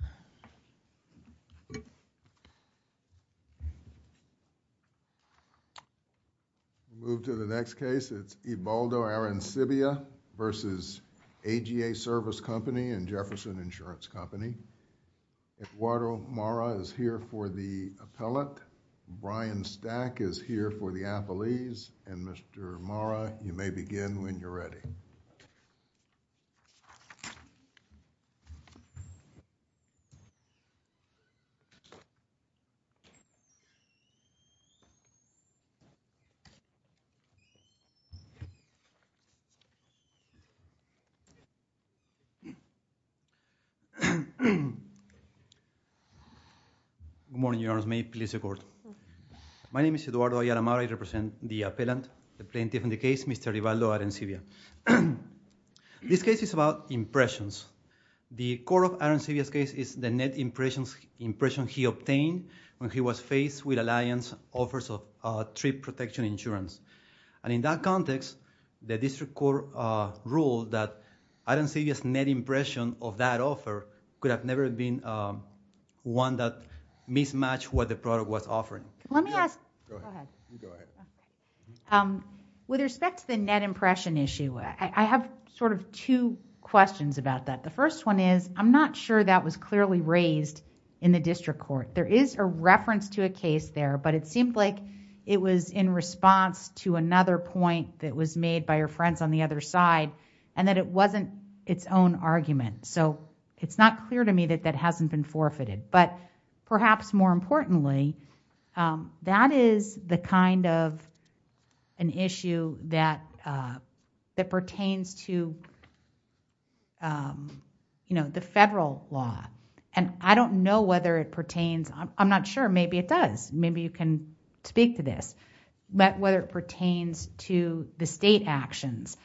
and Jefferson Insurance Company. Eduardo Mara is here for the appellate. Brian Stack is here for the appellees. And Mr. Mara, you may begin when you're ready. Good morning, Your Honors. May it please the Court. My name is Eduardo Ayala Mara. I represent the appellant, the plaintiff in the case, Mr. Ibaldo Arencibia. This case is about impressions. The court of Arencibia's case is the net impression he obtained when he was faced with Alliance offers of trip protection insurance. And in that context, the district court ruled that Arencibia's net impression of that offer could have never been one that mismatched what the district court ruled. With respect to the net impression issue, I have sort of two questions about that. The first one is I'm not sure that was clearly raised in the district court. There is a reference to a case there, but it seemed like it was in response to another point that was made by your friends on the other side and that it wasn't its own argument. So it's not clear to me that that hasn't been forfeited. But perhaps more importantly, that is the kind of an issue that pertains to the federal law. And I don't know whether it pertains. I'm not sure. Maybe it does. Maybe you can speak to this. But whether it pertains to the state actions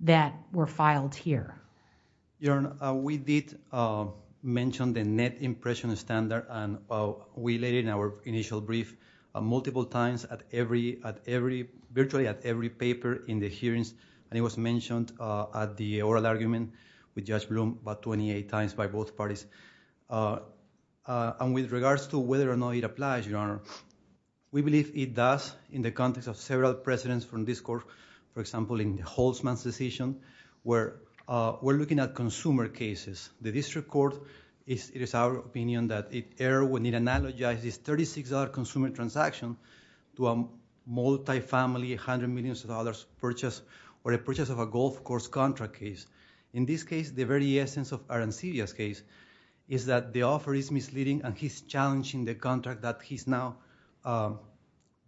that were filed here. Your Honor, we did mention the net impression standard. And we laid it in our initial brief multiple times at every, virtually at every paper in the hearings. And it was mentioned at the oral argument with Judge Blum about 28 times by both parties. And with regards to whether or not it applies, Your Honor, we believe it does in the context of several precedents from this court. For example, in Holtzman's decision, where we're looking at consumer cases. The district court, it is our opinion that it erred when it analogized this $36 consumer transaction to a multifamily, $100 million purchase or a purchase of a golf course contract case. In this case, the very essence of Arancidia's case is that the offer is misleading and he's challenging the contract that he's now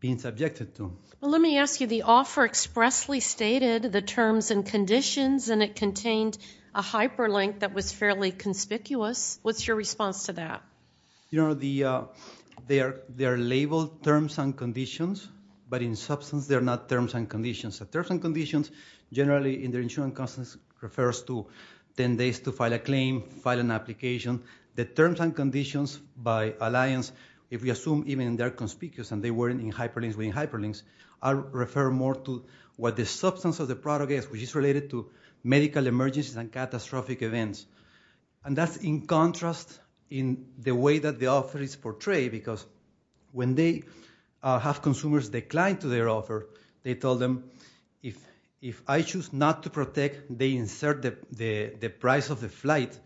being subjected to. Well, let me ask you, the offer expressly stated the terms and conditions and it contained a hyperlink that was fairly conspicuous. What's your response to that? Your Honor, they are labeled terms and conditions. But in substance, they're not terms and conditions. The terms and conditions generally in the insurance process refers to 10 days to file a claim, file an application. The terms and conditions by alliance, if we assume even they're conspicuous and they weren't in hyperlinks, I'll refer more to what the substance of the product is, which is related to medical emergencies and catastrophic events. And that's in contrast in the way that the offer is portrayed, because when they have consumers decline to their offer, they tell them, if I choose not to protect, they insert the price of the flight.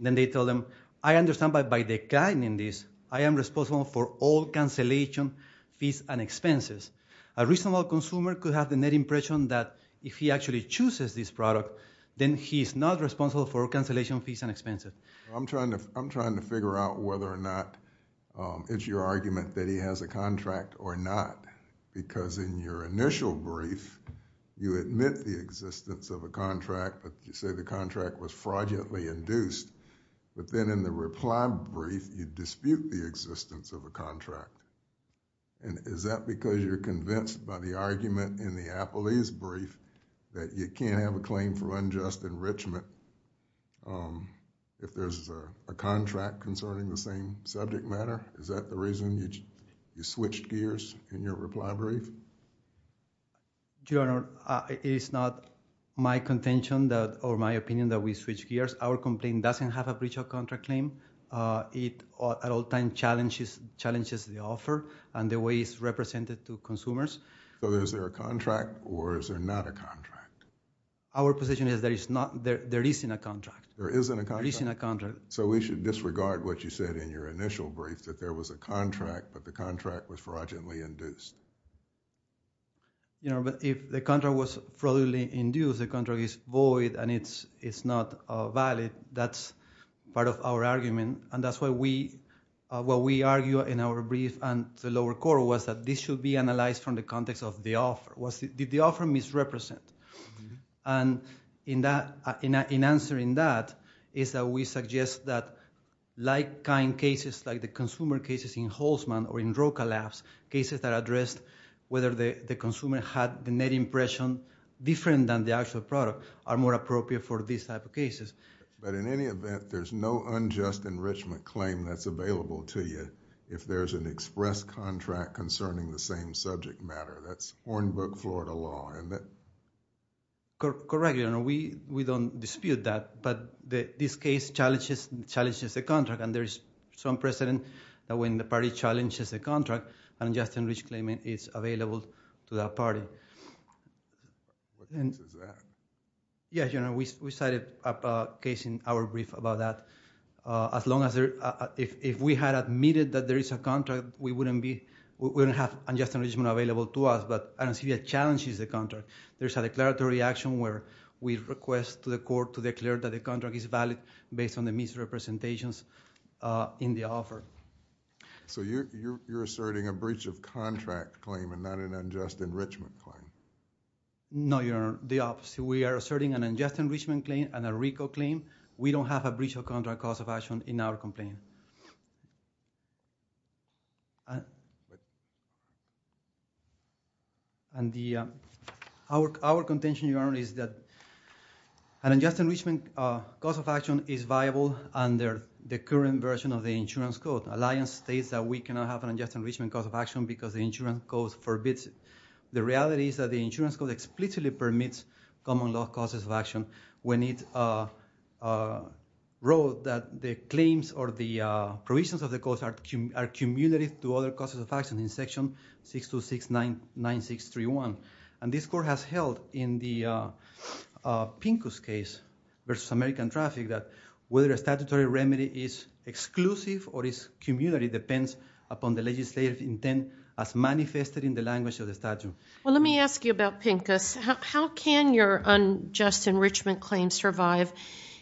Then they tell them, I understand by declining this, I am responsible for all cancellation fees and expenses. A reasonable consumer could have the net impression that if he actually chooses this product, then he's not responsible for cancellation fees and expenses. I'm trying to figure out whether or not it's your argument that he has a contract or not, because in your initial brief, you admit the existence of a contract, but you say the contract was fraudulently induced. But then in the reply brief, you dispute the existence of a contract. Is that because you're convinced by the argument in the Applease brief that you can't have a claim for unjust enrichment if there's a contract concerning the same subject matter? Is that the reason you switched gears in your reply brief? Your Honor, it is not my contention or my opinion that we switched gears. Our complaint doesn't have a breach of contract claim. It at all times challenges the offer and the way it's represented to consumers. So is there a contract or is there not a contract? Our position is there isn't a contract. There isn't a contract. So we should disregard what you said in your initial brief, that there was a contract, but the contract was fraudulently induced. Your Honor, but if the contract was fraudulently induced, the contract is void and it's not valid, that's part of our argument. And that's why we argue in our brief and the lower court was that this should be analyzed from the context of the offer. Did the offer misrepresent? And in answering that, is that we suggest that like-kind cases, like the consumer cases in Holtzman or in Roca Labs, cases that addressed whether the consumer had the net impression different than the actual product are more appropriate for these type of cases. But in any event, there's no unjust enrichment claim that's available to you if there's an express contract concerning the same subject matter. That's Hornbook Florida law, isn't it? Correct, Your Honor. We don't dispute that, but this case challenges the contract and there is some precedent that when the party challenges the contract, an unjust enrichment claim is available to that party. What else is there? Yes, Your Honor, we cited a case in our brief about that. If we had admitted that there is a contract, we wouldn't have unjust enrichment available to us, but I don't see it challenges the contract. There's a declaratory action where we request to the court to declare that the contract is valid based on the misrepresentations in the offer. So you're asserting a breach of contract claim and not an unjust enrichment claim? No, Your Honor, the opposite. We are asserting an unjust enrichment claim and a RICO claim. We don't have a breach of contract cause of action in our complaint. Our contention, Your Honor, is that an unjust enrichment cause of action is viable under the current version of the insurance code. Alliance states that we cannot have an unjust enrichment cause of action because the insurance code forbids it. The reality is that the insurance code explicitly permits common law causes of action when it wrote that the claims or the provisions of the codes are cumulative to other causes of action in Section 6269631. And this court has held in the Pincus case versus American Traffic that whether a statutory remedy is exclusive or is cumulative depends upon the legislative intent as manifested in the language of the statute. Well, let me ask you about Pincus. How can your unjust enrichment claim survive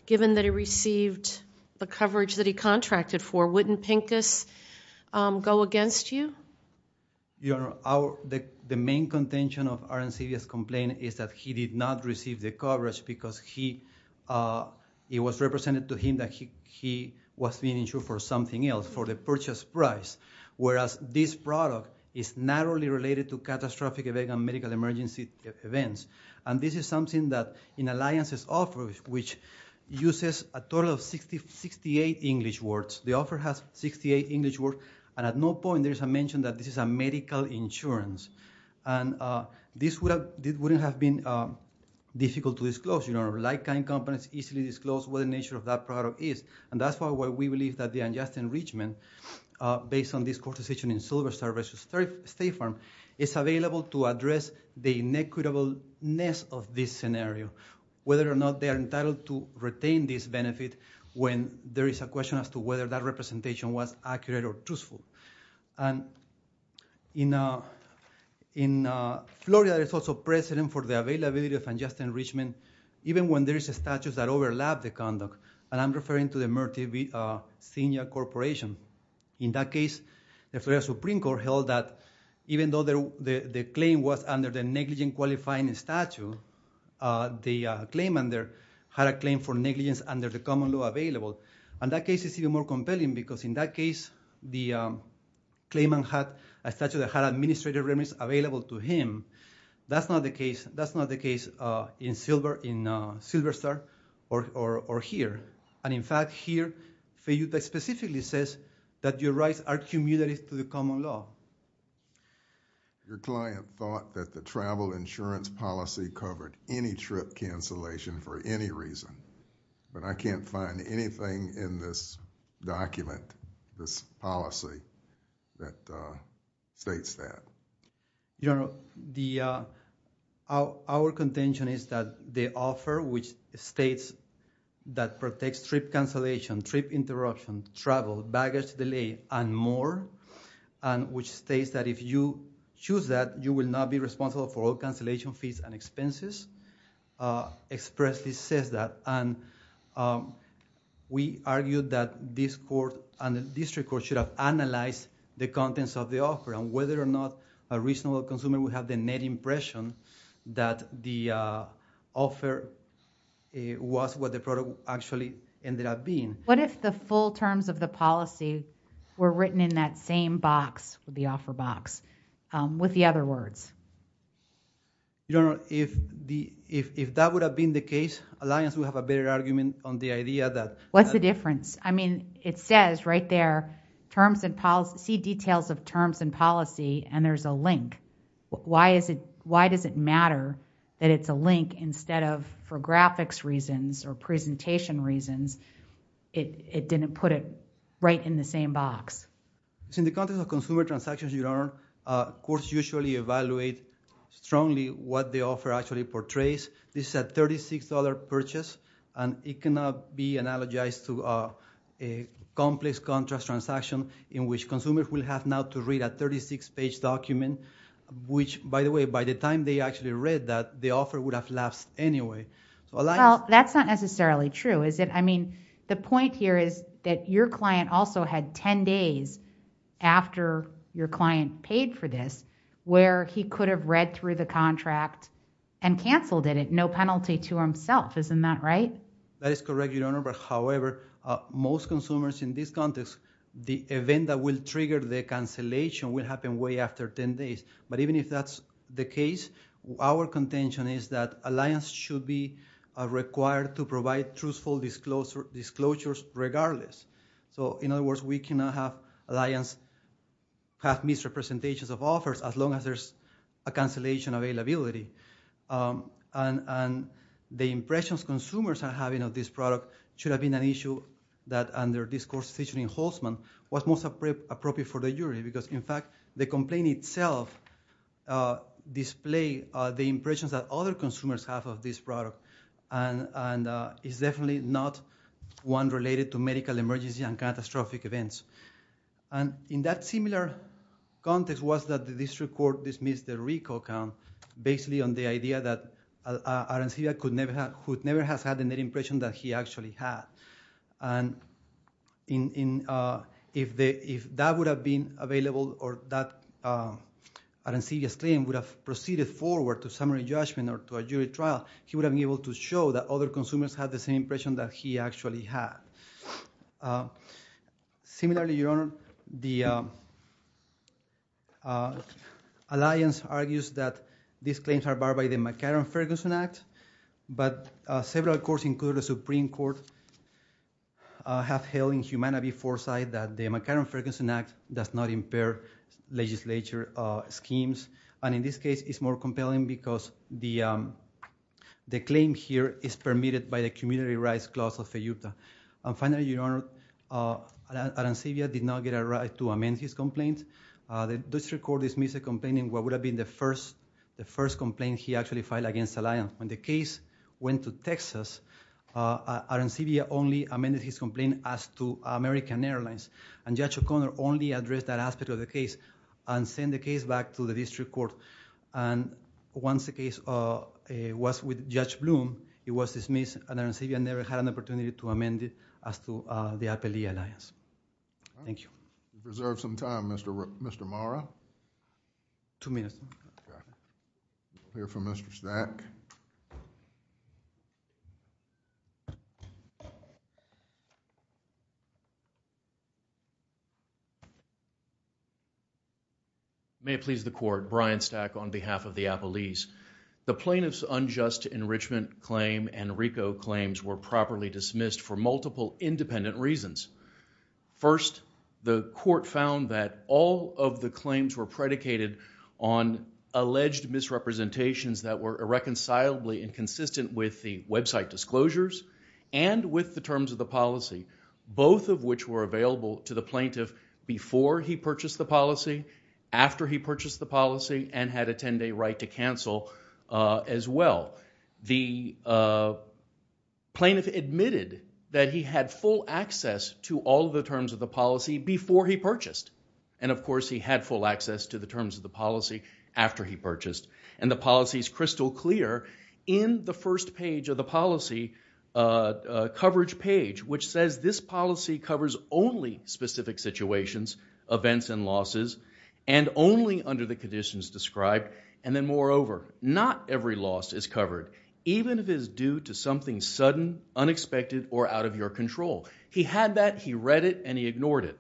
given that he received the coverage that he contracted for? Wouldn't Pincus go against you? The main contention of our insidious complaint is that he did not receive the coverage because it was represented to him that he was being insured for something else, for the purchase price, whereas this product is narrowly related to catastrophic event and medical emergency events. And this is something that in Alliance's offer, which uses a total of 68 English words, the offer has 68 English words, and at no point there is a mention that this is a medical insurance. And this wouldn't have been difficult to disclose. You know, like-kind companies easily disclose what the nature of that product is, and that's why we believe that the unjust enrichment based on this court decision in Silver Star versus State Farm is available to address the inequitableness of this scenario, whether or not they are entitled to retain this benefit when there is a question as to whether that representation was accurate or truthful. And in Florida, there's also precedent for the availability of unjust enrichment even when there is a statute that overlaps the conduct, and I'm referring to the Murthy v. Senior Corporation. In that case, the Florida Supreme Court held that even though the claim was under the negligent qualifying statute, the claimant had a claim for negligence under the common law available. And that case is even more compelling because in that case, the claimant had a statute that had administrative remittance available to him. That's not the case in Silver Star or here. And in fact, here, FEUTA specifically says that your rights are commutative to the common law. Your client thought that the travel insurance policy covered any trip cancellation for any reason, but I can't find anything in this document, this policy, that states that. You know, our contention is that the offer, which states that protects trip cancellation, trip interruption, travel, baggage delay, and more, and which states that if you choose that you will not be responsible for all cancellation fees and expenses, expressly says that. And we argue that this court and the district court should have analyzed the contents of the offer and whether or not a reasonable consumer would have the net impression that the offer was what the product actually ended up being. What if the full terms of the policy were written in that same box, the offer box, with the other words? You don't know. If that would have been the case, Alliance would have a better argument on the idea that... What's the difference? I mean, it says right there, terms and policy, details of terms and policy, and there's a link. Why does it matter that it's a link instead of, for graphics reasons or presentation reasons, it didn't put it right in the same box? In the context of consumer transactions, your Honor, courts usually evaluate strongly what the offer actually portrays. This is a $36 purchase, and it cannot be analogized to a complex contract transaction in which consumers will have now to read a 36-page document, which by the way, by the time they actually read that, the offer would have lapsed anyway. Well, that's not necessarily true, is it? I mean, the point here is that your client also had ten days after your client paid for this where he could have read through the contract and canceled it, no penalty to himself. Isn't that right? That is correct, your Honor, but however, most consumers in this context, the event that will trigger the cancellation will happen way after ten days. But even if that's the case, our contention is that Alliance should be required to provide truthful disclosures regardless. So in other words, we cannot have Alliance have misrepresentations of offers as long as there's a cancellation availability. And the impressions consumers are having of this product should have been an issue that under this court's decision in Holtzman was most appropriate for the jury, because in fact, the complaint itself displayed the impressions that other consumers have of this product, and is definitely not one related to medical emergency and catastrophic events. And in that similar context was that the district court dismissed the RICO count, basically on the idea that Arancivia could never have had the net impression that he actually had. And if that would have been available or that Arancivia's claim would have proceeded forward to summary judgment or to a jury trial, he would have been able to do that. Similarly, Your Honor, the Alliance argues that these claims are barred by the McCarran-Ferguson Act, but several courts, including the Supreme Court, have held in humanitarian foresight that the McCarran-Ferguson Act does not impair legislature schemes. And in this case, it's more compelling because the claim here is permitted by the Community Rights Clause of the Utah. And finally, Your Honor, Arancivia did not get a right to amend his complaint. The district court dismissed the complaint in what would have been the first complaint he actually filed against Alliance. When the case went to Texas, Arancivia only amended his complaint as to American Airlines, and Judge O'Connor only addressed that aspect of the case and sent the case back to the district court. The district court dismissed and Arancivia never had an opportunity to amend it as to the Appalachian Alliance. Thank you. We reserve some time, Mr. Marra. Two minutes. We'll hear from Mr. Stack. May it please the Court, Brian Stack on behalf of the Appalachians. The plaintiff's unjust enrichment claim and RICO claims were properly dismissed for multiple independent reasons. First, the court found that all of the claims were predicated on alleged misrepresentations that were irreconcilably inconsistent with the website disclosures and with the terms of the policy, both of which were available to the plaintiff before he purchased the policy, after he purchased the policy, and had a 10-day right to cancel as well. The plaintiff admitted that he had full access to all the terms of the policy before he purchased, and of course he had full access to the terms of the policy after he purchased, and the policy is crystal clear in the first page of the policy coverage page, which says this policy covers only specific situations, events, and losses, and only under the conditions described, and then moreover, not every loss is covered, even if it is due to something sudden, unexpected, or out of your control. He had that, he read it, and he ignored it.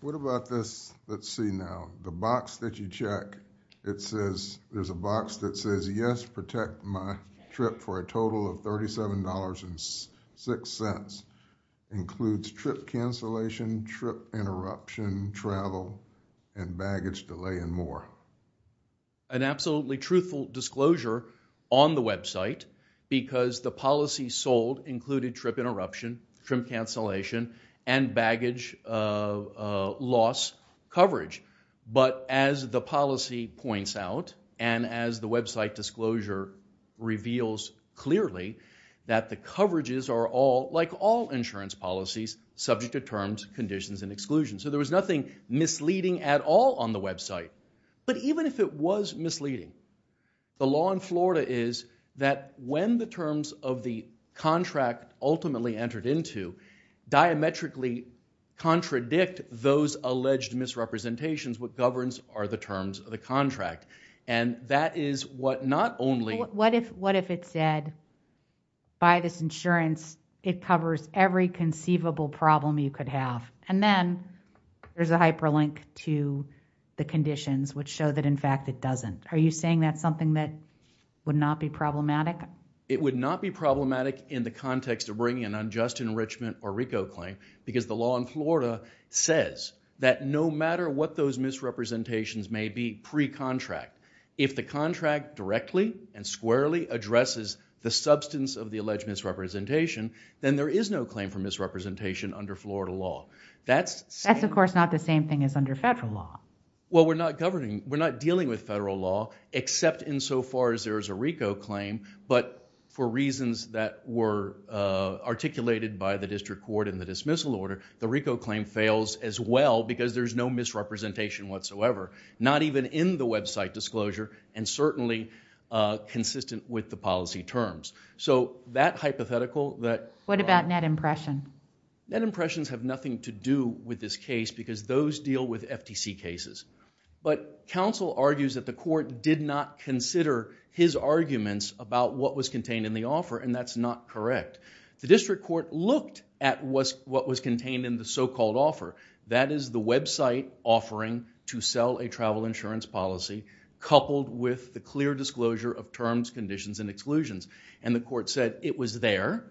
What about this, let's see now, the box that you check, it says, there's a box that says yes, protect my trip for a total of $37.06, includes trip cancellation, trip interruption, travel, and baggage delay, and more. An absolutely truthful disclosure on the website, because the policy sold included trip interruption, trip cancellation, and baggage loss coverage, but as the policy points out, and as the website disclosure reveals clearly, that the coverages are all, like all insurance policies, subject to terms, conditions, and exclusions. So there was nothing misleading at all on the website, but even if it was misleading, the law in Florida is that when the terms of the contract ultimately entered into, diametrically contradict those alleged misrepresentations, what governs are the terms of the contract, and that is what not only... What if it said, buy this insurance, it covers every conceivable problem you could have, and then there's a hyperlink to the conditions, which show that in fact it doesn't. Are you saying that's something that would not be problematic? It would not be problematic in the context of bringing an unjust enrichment or RICO claim, because the law in Florida says that no matter what those misrepresentations may be pre-contract, if the contract directly and squarely addresses the substance of the alleged misrepresentation, then there is no claim for misrepresentation under Florida law. That's of course not the same thing as under federal law. Well, we're not dealing with federal law, except insofar as there is a RICO claim, but for reasons that were articulated by the district court in the dismissal order, the RICO claim fails as well because there's no misrepresentation whatsoever, not even in the website disclosure and certainly consistent with the policy terms. So that hypothetical... What about net impression? Net impressions have nothing to do with this case, because those deal with FTC cases. But counsel argues that the court did not consider his arguments about what was contained in the offer, and that's not correct. The district court looked at what was contained in the so-called offer. That is the website offering to sell a travel insurance policy, coupled with the clear disclosure of terms, conditions, and exclusions. And the court said it was there.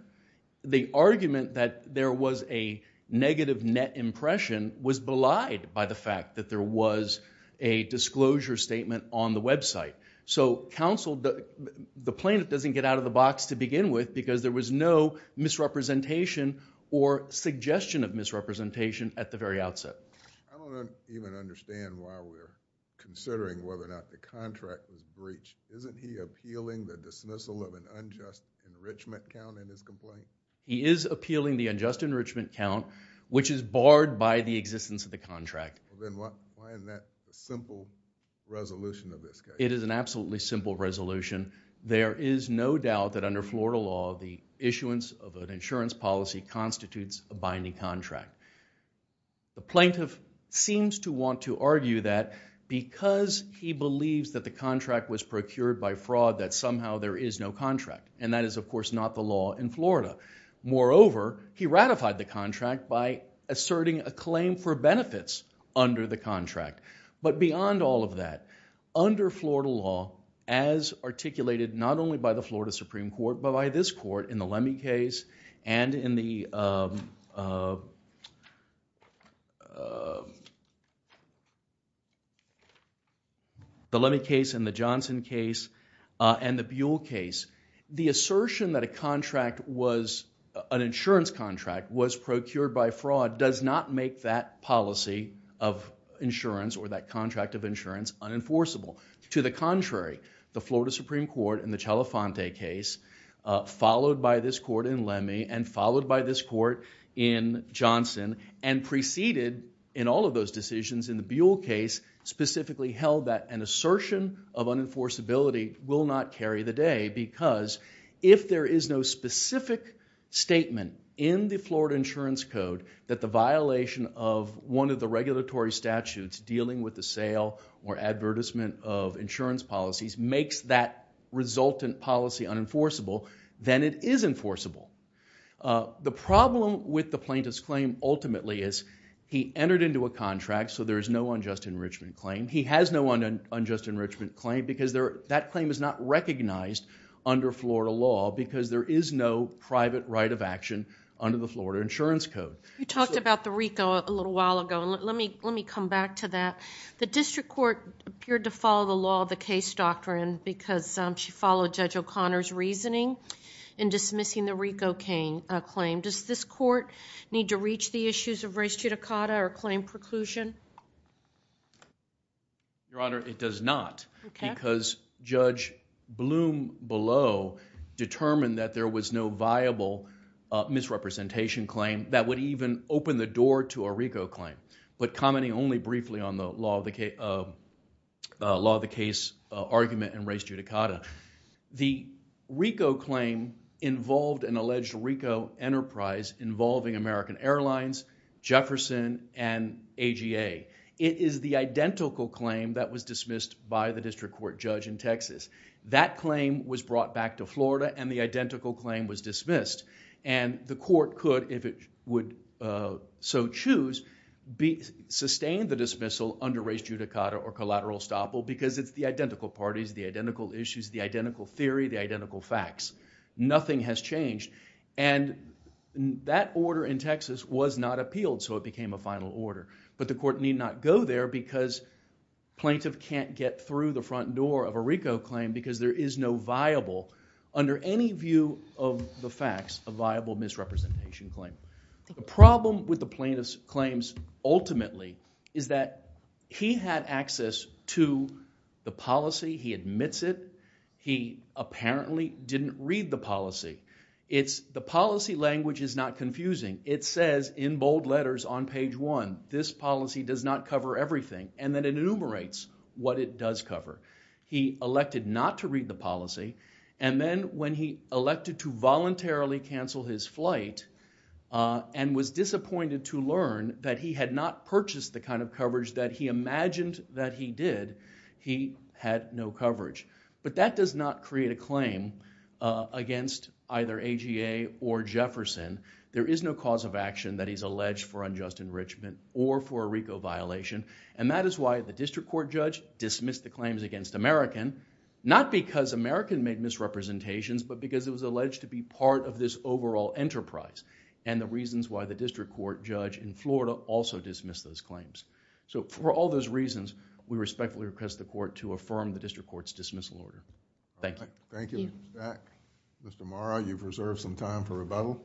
The argument that there was a negative net impression was belied by the fact that there was a disclosure statement on the website. So counsel... the plaintiff doesn't get out of the box to begin with, because there was no misrepresentation or suggestion of misrepresentation at the very outset. I don't even understand why we're considering whether or not the contract was breached. Isn't he appealing the dismissal of an unjust enrichment count in his complaint? He is appealing the unjust enrichment count, which is barred by the existence of the contract. Then why isn't that a simple resolution of this case? It is an absolutely simple resolution. There is no doubt that under Florida law, the issuance of an insurance policy constitutes a binding contract. The plaintiff seems to want to argue that because he believes that the contract was procured by fraud, that somehow there is no contract. And that is, of course, not the law in Florida. Moreover, he ratified the contract by asserting a claim for benefits under the contract. But beyond all of that, under Florida law, as articulated not only by the Florida Supreme Court, but by this court in the Lemme case and in the Johnson case and the Buell case, the assertion that an insurance contract was procured by fraud does not make that policy of insurance or that contract of insurance unenforceable. To the contrary, the Florida Supreme Court in the Celafonte case, followed by this court in Lemme, and followed by this court in Johnson, and preceded in all of those decisions in the Buell case specifically held that an assertion of unenforceability will not carry the day because if there is no specific statement in the Florida Insurance Code that the violation of one of the regulatory statutes dealing with the sale or advertisement of insurance policies makes that resultant policy unenforceable, then it is enforceable. The problem with the plaintiff's claim ultimately is he entered into a contract, so there is no unjust enrichment claim. He has no unjust enrichment claim because that claim is not recognized under Florida law because there is no private right of action under the Florida Insurance Code. You talked about the RICO a little while ago. Let me come back to that. The district court appeared to follow the law of the case doctrine because she followed Judge O'Connor's reasoning in dismissing the RICO claim. Does this court need to reach the issues of res judicata or claim preclusion? Your Honor, it does not because Judge Bloom below determined that there was no viable misrepresentation claim that would even open the door to a RICO claim. But commenting only briefly on the law of the case argument and res judicata, the RICO claim involved an alleged RICO enterprise involving American Airlines, Jefferson, and AGA. It is the identical claim that was dismissed by the district court judge in Texas. That claim was brought back to Florida and the identical claim was dismissed. The court could, if it would so choose, sustain the dismissal under res judicata or collateral estoppel because it is the identical parties, the identical issues, the identical theory, the identical facts. Nothing has changed. That order in Texas was not appealed, so it became a final order. But the court need not go there because plaintiff can't get through the front door of a RICO claim because there is no viable, under any view of the facts, a viable misrepresentation claim. The problem with the plaintiff's claims ultimately is that he had access to the policy. He admits it. He apparently didn't read the policy. It's the policy language is not confusing. It says in bold letters on page one, this policy does not cover everything. And then it enumerates what it does cover. He elected not to read the policy and then when he elected to voluntarily cancel his flight and was disappointed to learn that he had not purchased the kind of coverage that he imagined that he did, he had no coverage. But that does not create a claim against either AGA or Jefferson. There is no cause of action that he's alleged for unjust enrichment or for a RICO violation. And that is why the district court judge dismissed the claims against American, not because American made misrepresentations but because it was alleged to be part of this overall enterprise and the reasons why the district court judge in Florida also dismissed those claims. So, for all those reasons, we respectfully request the court to affirm the district court's dismissal order. Thank you. Thank you, Mr. Stack. Mr. Marra, you've reserved some time for rebuttal.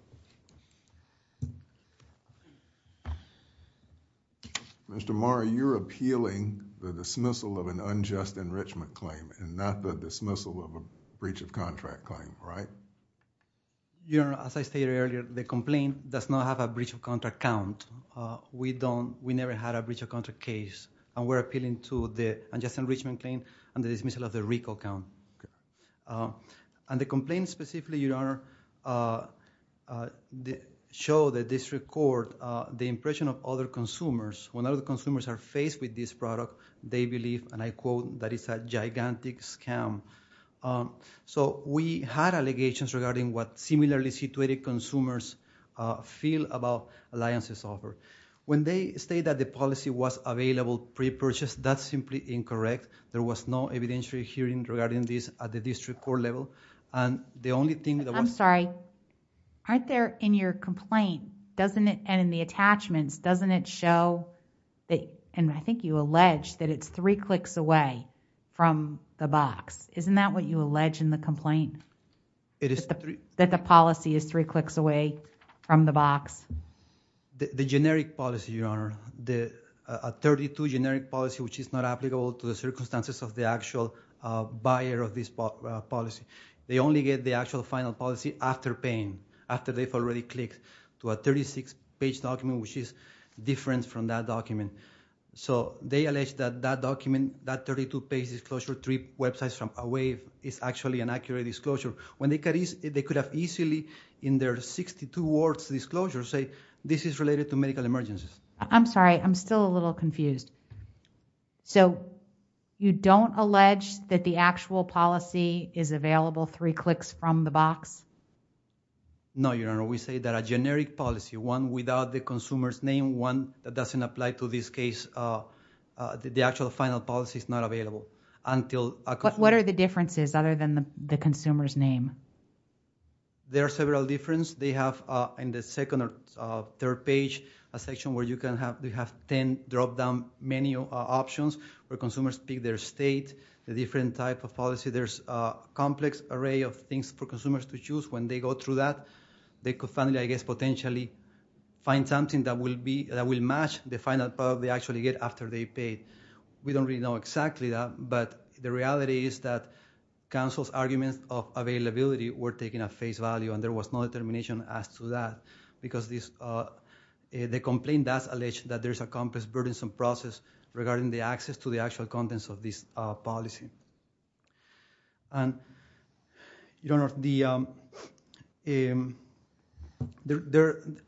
Mr. Marra, you're appealing the dismissal of an unjust enrichment claim and not the dismissal of a breach of contract claim, right? Your Honor, as I stated earlier, the complaint does not have a breach of contract count. We never had a breach of contract case and we're appealing to the unjust enrichment claim and the dismissal of the RICO count. And the complaint specifically, Your Honor, showed the district court the impression of other consumers. When other consumers are faced with this product, they believe, and I quote, that it's a gigantic scam. So, we had allegations regarding what similarly situated consumers feel about Alliance's offer. When they state that the policy was available pre-purchase, that's simply incorrect. There was no evidentiary hearing regarding this at the district court level. And the only thing... I'm sorry. Aren't there in your complaint, and in the attachments, doesn't it show, and I think you allege that it's three clicks away from the box. Isn't that what you allege in the complaint? That the policy is three clicks away from the box? The generic policy, Your Honor. A 32 generic policy, which is not applicable to the circumstances of the actual buyer of this policy. They only get the actual final policy after paying, after they've already clicked to a 36-page document, which is different from that document. So, they allege that that document, that 32-page disclosure, three websites away, is actually an accurate disclosure. When they could have easily, in their 62 words disclosure, say, this is related to medical emergencies. I'm sorry. I'm still a little confused. So, you don't allege that the actual policy is available three clicks from the box? No, Your Honor. We say that a generic policy, one without the consumer's name, one that doesn't apply to this case, the actual final policy is not available until... But what are the differences other than the consumer's name? There are several differences. They have, in the second or third page, a section where you can have ten drop-down menu options, where consumers pick their state, the different type of policy. There's a complex array of things for consumers to choose. When they go through that, they could finally, I guess, potentially find something that will match the final policy they actually get after they pay. We don't really know exactly that, but the reality is that counsel's arguments of availability were taken at face value, and there was no determination as to that, because the complaint does allege that there's a complex, burdensome process regarding the access to the actual contents of this policy. And, Your Honor,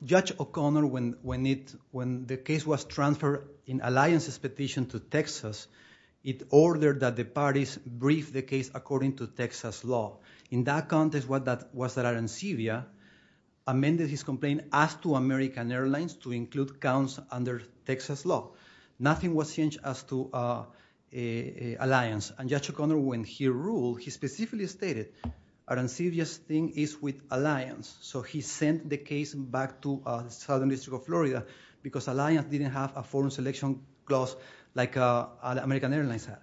Judge O'Connor, when the case was transferred in Alliance's petition to Texas, it ordered that the parties brief the case according to Texas law. In that context, what that was that Arancivia amended his complaint as to American Airlines to include counts under Texas law. Nothing was changed as to Alliance. And Judge O'Connor, when he ruled, he specifically stated Arancivia's thing is with Alliance, so he sent the case back to the Southern District of Florida because Alliance didn't have a foreign selection clause like American Airlines had.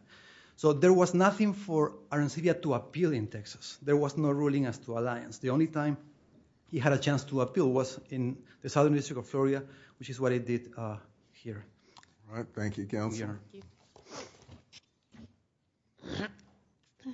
So, there was nothing for Arancivia to appeal in Texas. There was no ruling as to Alliance. The only time he had a chance to appeal was in the Southern District of Florida, which is what it did here. All right. Thank you, Counselor. Thank you.